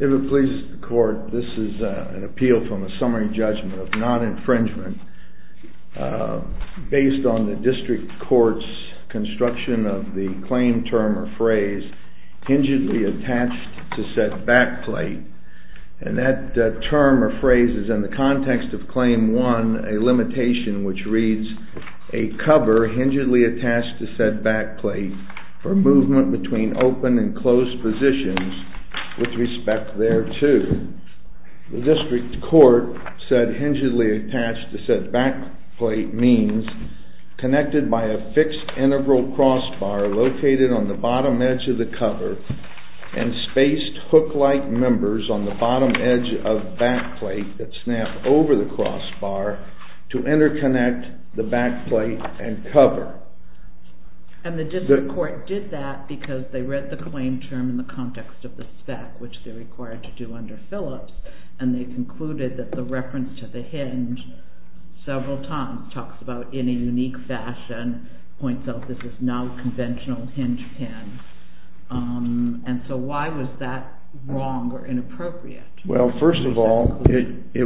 If it pleases the court, this is an appeal from a summary judgment of non-infringement based on the district court's construction of the claim term or phrase, HINGEDLY ATTACHED TO SAID BACKPLATE. And that term or phrase is in the context of Claim 1, a limitation which reads, A COVER HINGEDLY ATTACHED TO SAID BACKPLATE FOR MOVEMENT BETWEEN OPEN AND CLOSED POSITIONS WITH RESPECT THERETO. The district court said HINGEDLY ATTACHED TO SAID BACKPLATE means CONNECTED BY A FIXED INTEGRAL CROSSBAR LOCATED ON THE BOTTOM EDGE OF THE COVER AND SPACED HOOK-LIKE MEMBERS ON THE BOTTOM EDGE OF BACKPLATE THAT SNAP OVER THE CROSSBAR TO INTERCONNECT THE BACKPLATE AND COVER. And the district court did that because they read the claim term in the context of the spec, which they're required to do under Phillips, and they concluded that the reference to the hinge several times talks about in a unique fashion, points out this is now a conventional hinge pin. And so why was that wrong or inappropriate? Well, first of all, it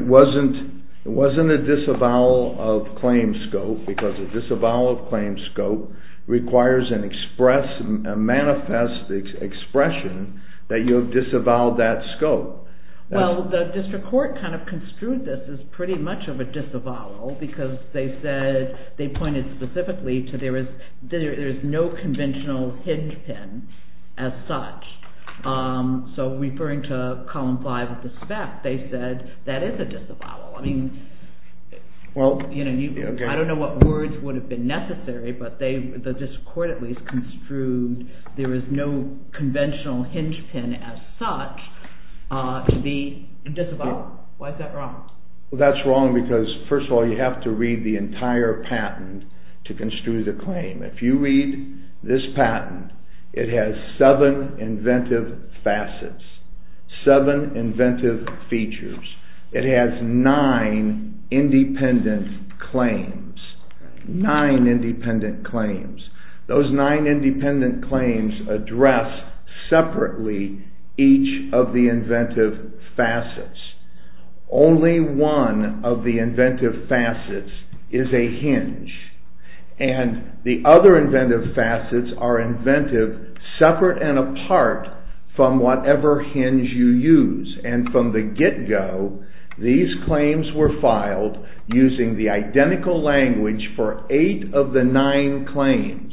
wasn't a disavowal of claim scope because a disavowal of claim scope requires a manifest expression that you have disavowed that scope. Well, the district court kind of construed this as pretty much of a disavowal because they pointed specifically to there is no conventional hinge pin as such. So referring to column 5 of the spec, they said that is a disavowal. I mean, I don't know what words would have been necessary, but the district court at least construed there is no conventional hinge pin as such to be a disavowal. Why is that wrong? Well, that's wrong because, first of all, you have to read the entire patent to construe the claim. If you read this patent, it has seven inventive facets, seven inventive features. It has nine independent claims, nine independent claims. Those nine independent claims address separately each of the inventive facets. Only one of the inventive facets is a hinge. And the other inventive facets are inventive separate and apart from whatever hinge you use. And from the get-go, these claims were filed using the identical language for eight of the nine claims.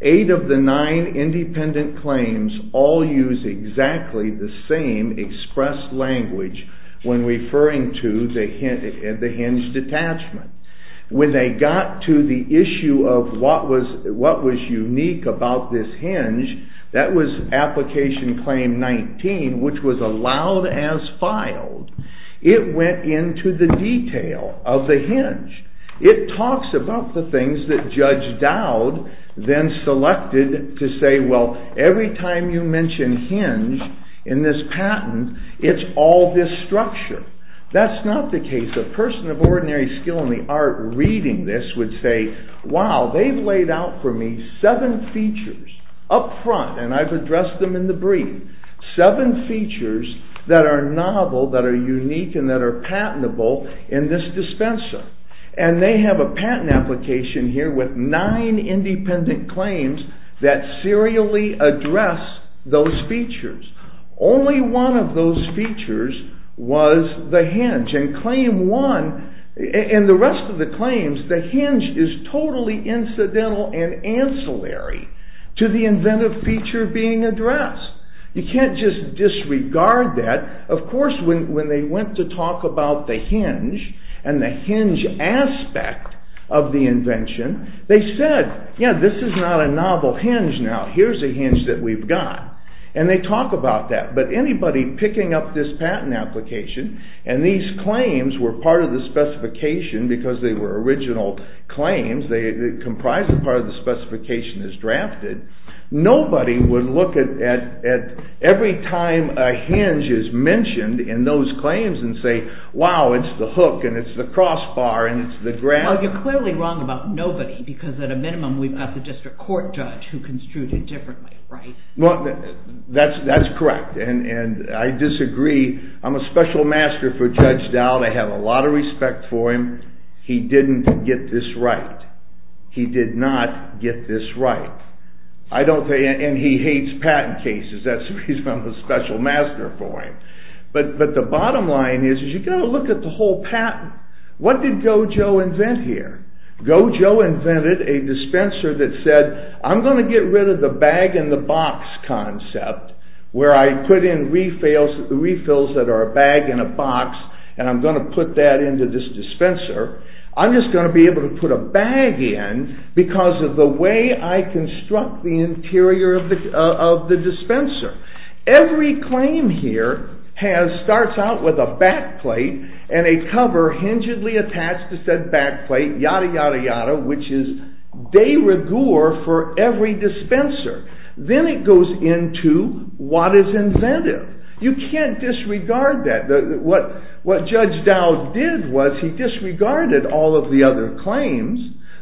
Eight of the nine independent claims all use exactly the same expressed language when referring to the hinge detachment. When they got to the issue of what was unique about this hinge, that was application claim 19, which was allowed as filed. It went into the detail of the hinge. It talks about the things that Judge Dowd then selected to say, well, every time you mention hinge in this patent, it's all this structure. That's not the case. A person of ordinary skill in the art reading this would say, wow, they've laid out for me seven features up front, and I've addressed them in the brief, seven features that are novel, that are unique, and that are patentable in this dispenser. And they have a patent application here with nine independent claims that serially address those features. Only one of those features was the hinge. And claim one, and the rest of the claims, the hinge is totally incidental and ancillary to the inventive feature being addressed. You can't just disregard that. Of course, when they went to talk about the hinge and the hinge aspect of the invention, they said, yeah, this is not a novel hinge now. Here's a hinge that we've got. And they talk about that. But anybody picking up this patent application, and these claims were part of the specification because they were original claims, they comprise a part of the specification as drafted, nobody would look at every time a hinge is mentioned in those claims and say, wow, it's the hook, and it's the crossbar, and it's the graph. Well, you're clearly wrong about nobody because at a minimum we've got the district court judge who construed it differently, right? Well, that's correct. And I disagree. I'm a special master for Judge Dowd. I have a lot of respect for him. He didn't get this right. He did not get this right. And he hates patent cases. That's the reason I'm a special master for him. But the bottom line is you've got to look at the whole patent. What did Gojo invent here? Gojo invented a dispenser that said, I'm going to get rid of the bag-in-the-box concept where I put in refills that are a bag and a box, and I'm going to put that into this dispenser. I'm just going to be able to put a bag in because of the way I construct the interior of the dispenser. Every claim here starts out with a backplate and a cover hingedly attached to said backplate, yada, yada, yada, which is de rigueur for every dispenser. Then it goes into what is inventive. You can't disregard that. What Judge Dowd did was he disregarded all of the other claims.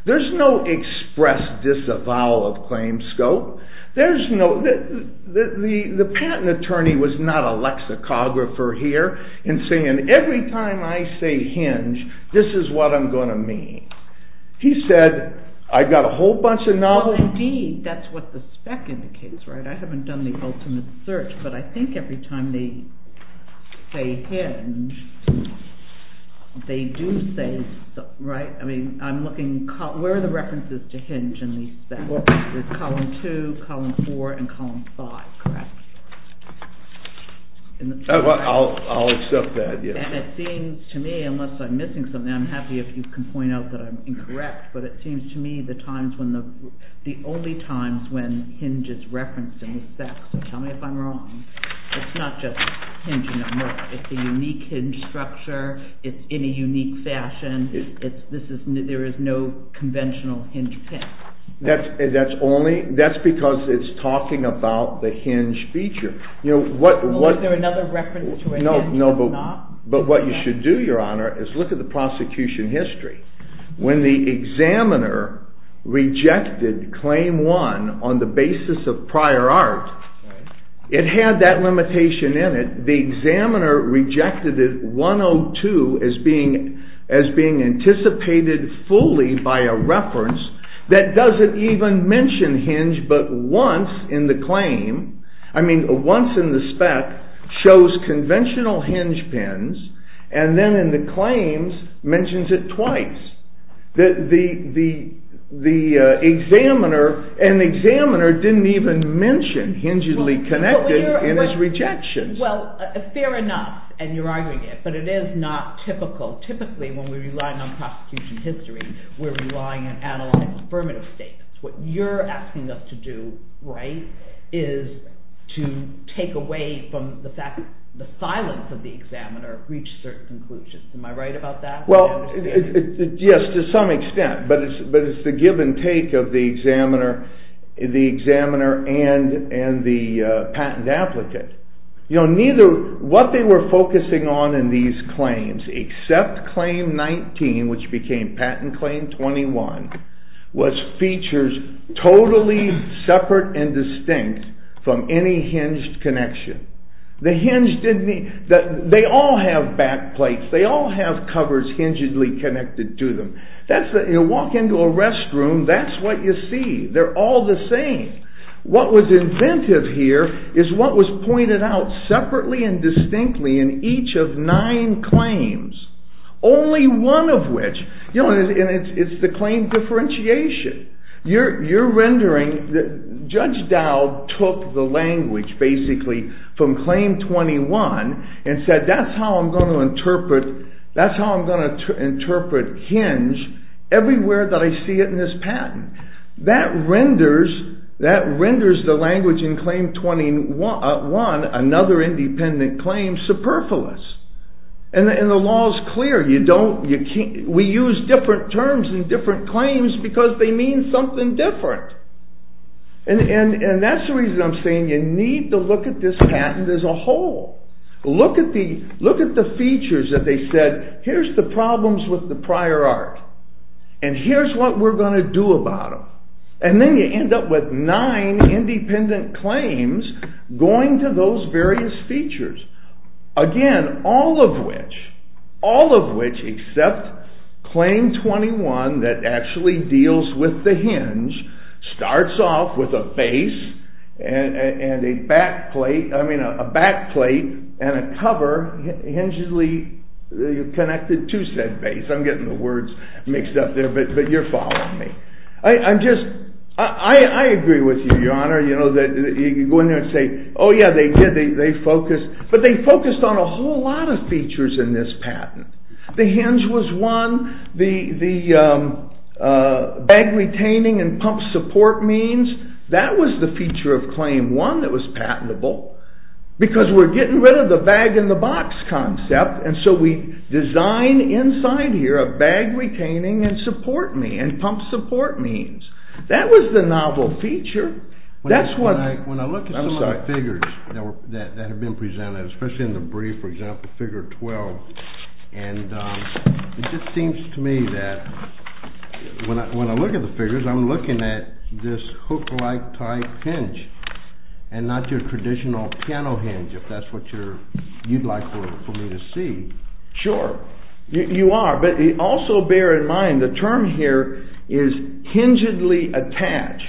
There's no express disavowal of claim scope. The patent attorney was not a lexicographer here in saying, every time I say hinge, this is what I'm going to mean. He said, I've got a whole bunch of novelties. Indeed, that's what the spec indicates, right? I haven't done the ultimate search, but I think every time they say hinge, they do say, right? I'm looking, where are the references to hinge in the spec? There's column two, column four, and column five, correct? I'll accept that, yes. It seems to me, unless I'm missing something, I'm happy if you can point out that I'm incorrect, but it seems to me the only times when hinge is referenced in the spec, so tell me if I'm wrong, it's not just hinge in a book. It's a unique hinge structure. It's in a unique fashion. There is no conventional hinge pick. That's because it's talking about the hinge feature. Is there another reference to a hinge or not? No, but what you should do, Your Honor, is look at the prosecution history. When the examiner rejected claim one on the basis of prior art, it had that limitation in it. The examiner rejected it, 102, as being anticipated fully by a reference that doesn't even mention hinge, but once in the claim, I mean once in the spec, shows conventional hinge pins, and then in the claims, mentions it twice. The examiner, and the examiner didn't even mention hingely connected in his rejection. Well, fair enough, and you're arguing it, but it is not typical. Typically, when we're relying on prosecution history, we're relying on analytic affirmative statements. What you're asking us to do, right, is to take away from the fact that the silence of the examiner reached certain conclusions. Am I right about that? Well, yes, to some extent, but it's the give and take of the examiner and the patent applicant. What they were focusing on in these claims, except claim 19, which became patent claim 21, was features totally separate and distinct from any hinged connection. They all have back plates, they all have covers hingedly connected to them. You walk into a restroom, that's what you see. They're all the same. What was inventive here is what was pointed out separately and distinctly in each of nine claims. Only one of which, and it's the claim differentiation. You're rendering that Judge Dowd took the language, basically, from claim 21, and said that's how I'm going to interpret hinge everywhere that I see it in this patent. That renders the language in claim 21, another independent claim, superfluous. And the law is clear. We use different terms in different claims because they mean something different. And that's the reason I'm saying you need to look at this patent as a whole. Look at the features that they said, here's the problems with the prior art, and here's what we're going to do about them. And then you end up with nine independent claims going to those various features. Again, all of which, all of which except claim 21 that actually deals with the hinge, starts off with a face and a back plate, I mean a back plate and a cover, connected to said base. I'm getting the words mixed up there, but you're following me. I agree with you, Your Honor, that you go in there and say, oh yeah, they did, they focused. But they focused on a whole lot of features in this patent. The hinge was one, the bag retaining and pump support means, that was the feature of claim one that was patentable because we're getting rid of the bag in the box concept, and so we design inside here a bag retaining and support means, and pump support means. That was the novel feature. When I look at some of the figures that have been presented, especially in the brief, for example, figure 12, I'm looking at this hook-like type hinge and not your traditional piano hinge, if that's what you'd like for me to see. Sure, you are, but also bear in mind the term here is hingedly attached.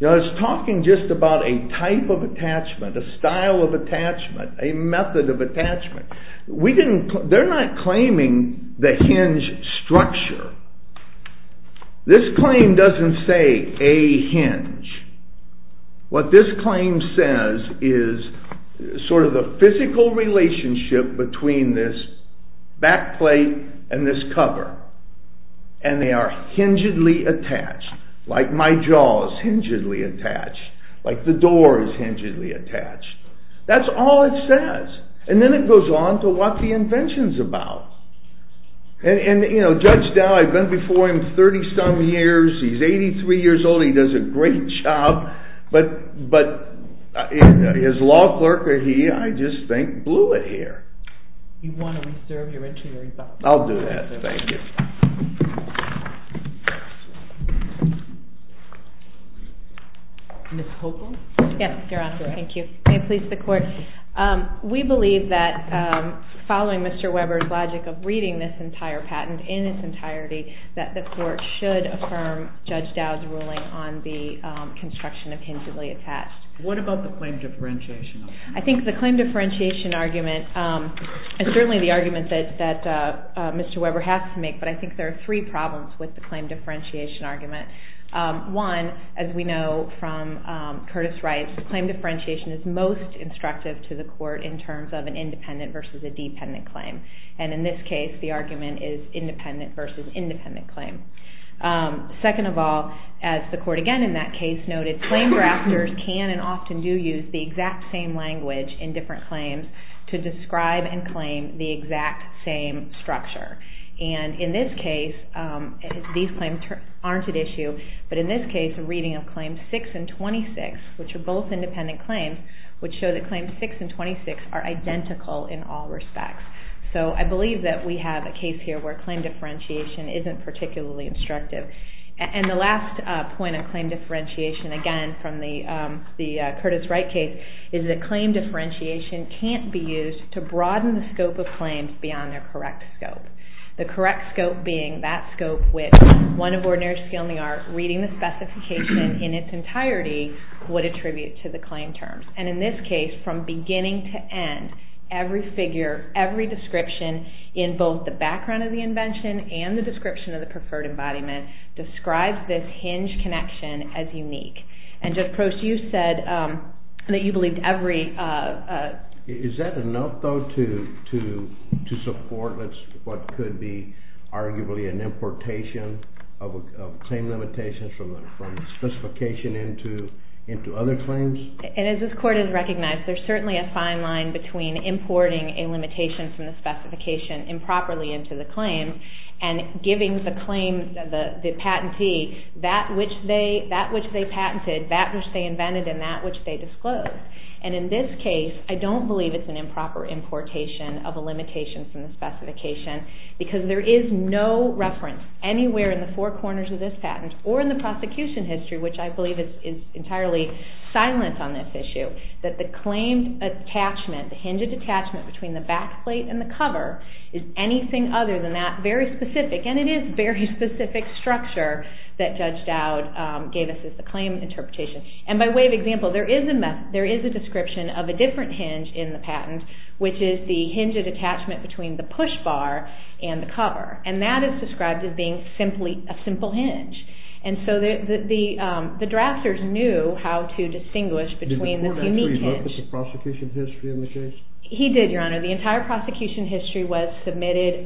Now it's talking just about a type of attachment, a style of attachment, a method of attachment. We didn't, they're not claiming the hinge structure. This claim doesn't say a hinge. What this claim says is sort of the physical relationship between this back plate and this cover, and they are hingedly attached, like my jaw is hingedly attached, like the door is hingedly attached. That's all it says. And then it goes on to what the invention's about. And, you know, Judge Dowd, I've been before him 30-some years. He's 83 years old. He does a great job, but his law clerk, or he, I just think, blew it here. You want to reserve your interior. I'll do that. Thank you. Ms. Hopel? May it please the Court. We believe that following Mr. Weber's logic of reading this entire patent in its entirety, that the Court should affirm Judge Dowd's ruling on the construction of hingedly attached. What about the claim differentiation? I think the claim differentiation argument, and certainly the argument that Mr. Weber has to make, but I think there are three problems with the claim differentiation argument. One, as we know from Curtis Rice, claim differentiation is most instructive to the Court in terms of an independent versus a dependent claim. And in this case, the argument is independent versus independent claim. Second of all, as the Court again in that case noted, claim drafters can and often do use the exact same language in different claims to describe and claim the exact same structure. And in this case, these claims aren't at issue, but in this case, a reading of Claims 6 and 26, which are both independent claims, would show that Claims 6 and 26 are identical in all respects. So I believe that we have a case here where claim differentiation isn't particularly instructive. And the last point of claim differentiation, again from the Curtis Wright case, is that claim differentiation can't be used to broaden the scope of claims beyond their correct scope. The correct scope being that scope which, one of ordinary skill in the art, reading the specification in its entirety would attribute to the claim terms. And in this case, from beginning to end, every figure, every description, in both the background of the invention and the description of the preferred embodiment, describes this hinge connection as unique. And, Judge Crouse, you said that you believed every... Is that enough, though, to support what could be arguably an importation of claim limitations from the specification into other claims? And as this Court has recognized, there's certainly a fine line between importing a limitation from the specification improperly into the claim and giving the patentee that which they patented, that which they invented, and that which they disclosed. And in this case, I don't believe it's an improper importation of a limitation from the specification because there is no reference anywhere in the four corners of this patent or in the prosecution history, which I believe is entirely silent on this issue, that the claimed attachment, the hinged attachment between the backplate and the cover, is anything other than that very specific, and it is very specific structure that Judge Dowd gave us as the claim interpretation. And by way of example, there is a description of a different hinge in the patent, which is the hinged attachment between the push bar and the cover. And that is described as being simply a simple hinge. And so the drafters knew how to distinguish between this unique hinge. Did the Court actually look at the prosecution history in the case? He did, Your Honor. The entire prosecution history was submitted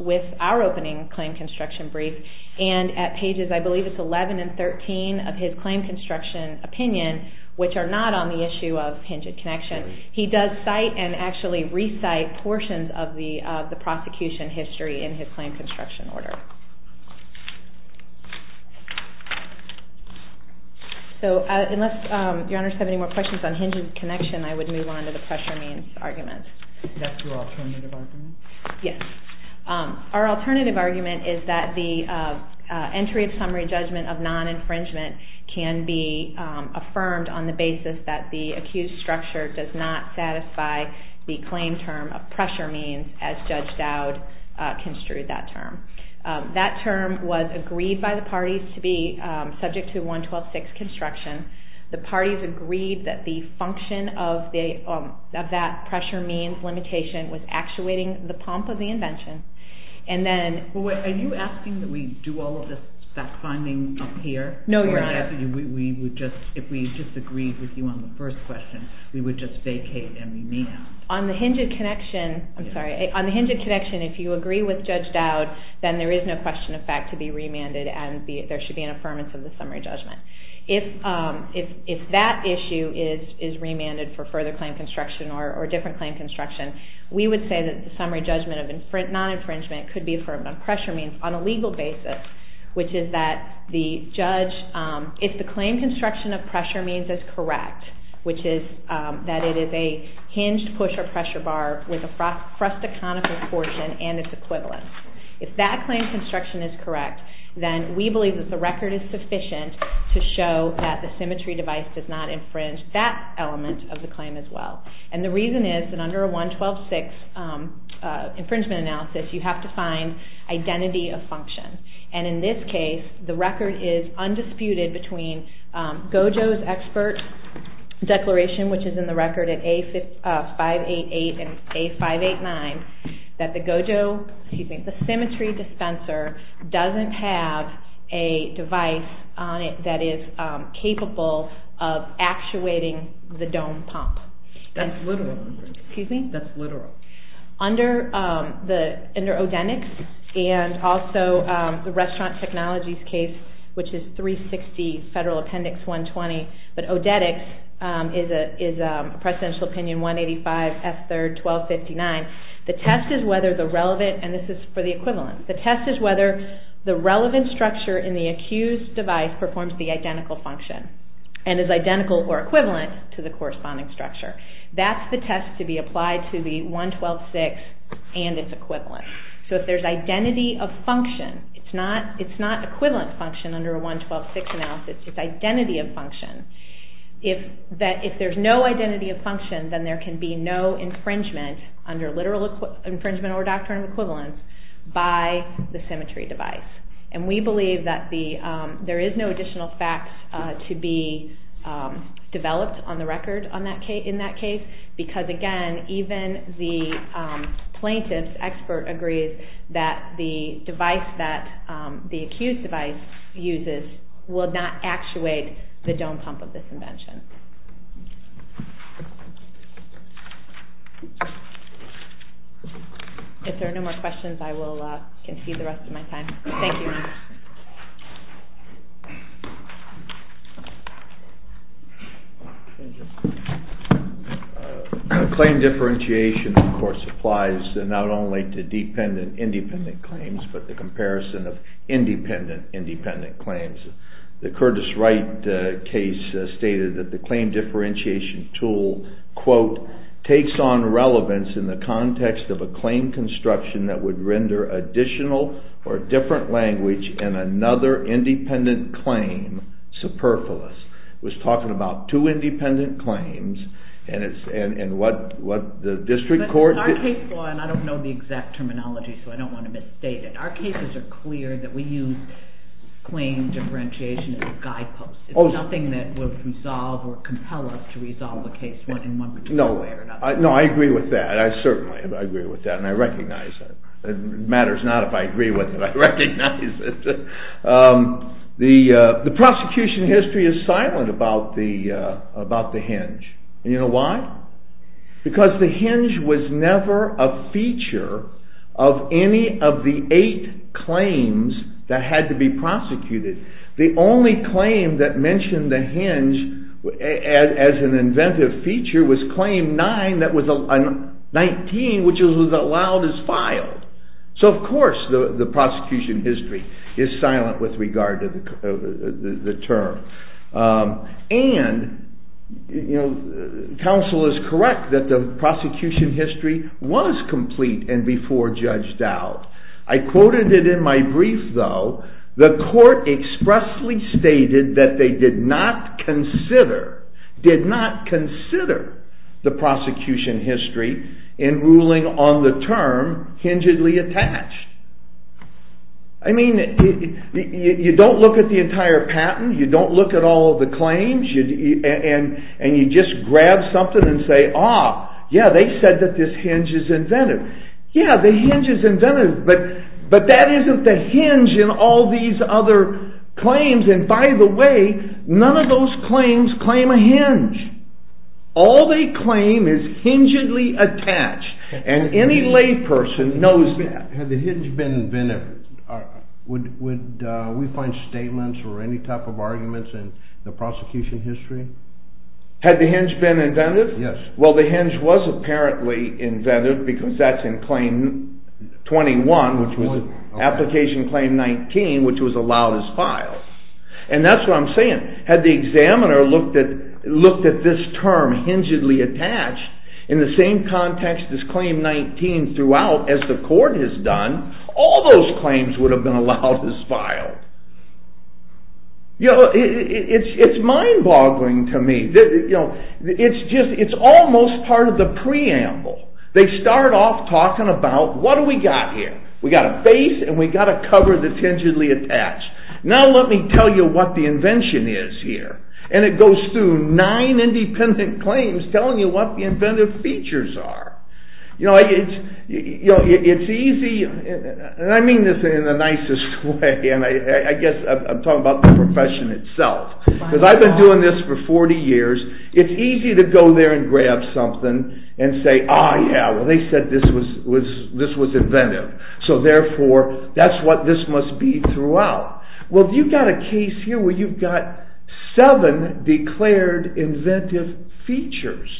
with our opening claim construction brief. And at pages, I believe it's 11 and 13 of his claim construction opinion, which are not on the issue of hinged connection, he does cite and actually recite portions of the prosecution history in his claim construction order. So unless Your Honor has any more questions on hinged connection, I would move on to the pressure means argument. Is that your alternative argument? Yes. Our alternative argument is that the entry of summary judgment of non-infringement can be affirmed on the basis that the accused structure does not satisfy the claim term of pressure means, as Judge Dowd construed that term. That term was agreed by the parties to be subject to 112-6 construction. The parties agreed that the function of that pressure means limitation was actuating the pump of the invention. Are you asking that we do all of that finding up here? No, Your Honor. If we disagreed with you on the first question, we would just vacate and we may not. On the hinged connection, I'm sorry. Then there is no question of fact to be remanded and there should be an affirmance of the summary judgment. If that issue is remanded for further claim construction or different claim construction, we would say that the summary judgment of non-infringement could be affirmed on pressure means on a legal basis, which is that if the claim construction of pressure means is correct, which is that it is a hinged push or pressure bar with a frustaconical portion and its equivalent. If that claim construction is correct, then we believe that the record is sufficient to show that the symmetry device does not infringe that element of the claim as well. The reason is that under a 112-6 infringement analysis, you have to find identity of function. In this case, the record is undisputed between GOJO's expert declaration, which is in the record at A588 and A589, that the symmetry dispenser doesn't have a device on it that is capable of actuating the dome pump. That's literal. Under ODETIX and also the restaurant technologies case, which is 360 Federal Appendix 120, but ODETIX is a Presidential Opinion 185 F3 1259, the test is whether the relevant structure in the accused device performs the identical function and is identical or equivalent to the corresponding structure. That's the test to be applied to the 112-6 and its equivalent. So if there's identity of function, it's not equivalent function under a 112-6 analysis, it's identity of function. If there's no identity of function, then there can be no infringement under literal infringement or doctrinal equivalence by the symmetry device. And we believe that there is no additional facts to be developed on the record in that case, because again, even the plaintiff's expert agrees that the device that the accused device uses will not actuate the dome pump of this invention. If there are no more questions, I will concede the rest of my time. Thank you. Claim differentiation, of course, applies not only to dependent-independent claims, but the comparison of independent-independent claims. The Curtis Wright case stated that the claim differentiation tool, quote, takes on relevance in the context of a claim construction that would render additional or different language in another independent claim superfluous. It was talking about two independent claims, and what the district court... But in our case law, and I don't know the exact terminology, so I don't want to misstate it, our cases are clear that we use claim differentiation as a guidepost. It's nothing that would resolve or compel us to resolve the case in one particular way or another. No, I agree with that. I certainly agree with that, and I recognize that. It matters not if I agree with it, I recognize it. The prosecution history is silent about the hinge. And you know why? Because the hinge was never a feature of any of the eight claims that had to be prosecuted. The only claim that mentioned the hinge as an inventive feature was claim nine, that was 19, which was allowed as filed. So of course the prosecution history is silent with regard to the term. And counsel is correct that the prosecution history was complete and before judged out. I quoted it in my brief though, the court expressly stated that they did not consider, did not consider the prosecution history in ruling on the term, hingedly attached. I mean, you don't look at the entire patent, you don't look at all of the claims, and you just grab something and say, ah, yeah, they said that this hinge is inventive. Yeah, the hinge is inventive, but that isn't the hinge in all these other claims. And by the way, none of those claims claim a hinge. All they claim is hingedly attached, and any lay person knows that. Had the hinge been inventive, would we find statements or any type of arguments in the prosecution history? Had the hinge been inventive? Yes. Well, the hinge was apparently inventive because that's in claim 21, which was application claim 19, which was allowed as filed. And that's what I'm saying. Had the examiner looked at this term, hingedly attached, in the same context as claim 19 throughout, as the court has done, all those claims would have been allowed as filed. You know, it's mind-boggling to me. It's almost part of the preamble. They start off talking about, what do we got here? We got a face, and we got a cover that's hingedly attached. Now let me tell you what the invention is here. And it goes through nine independent claims telling you what the inventive features are. You know, it's easy, and I mean this in the nicest way, and I guess I'm talking about the profession itself. Because I've been doing this for 40 years. It's easy to go there and grab something and say, ah, yeah, well, they said this was inventive. So therefore, that's what this must be throughout. Well, you've got a case here where you've got seven declared inventive features.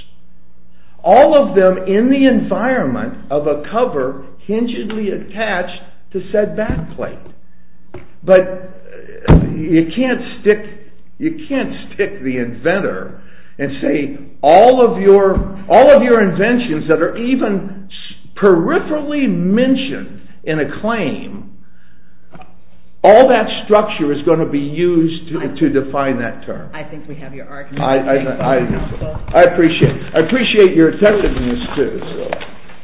All of them in the environment of a cover hingedly attached to said backplate. But you can't stick the inventor and say all of your inventions that are even peripherally mentioned in a claim, all that structure is going to be used to define that term. I think we have your argument. I appreciate it. I appreciate your attentiveness to this.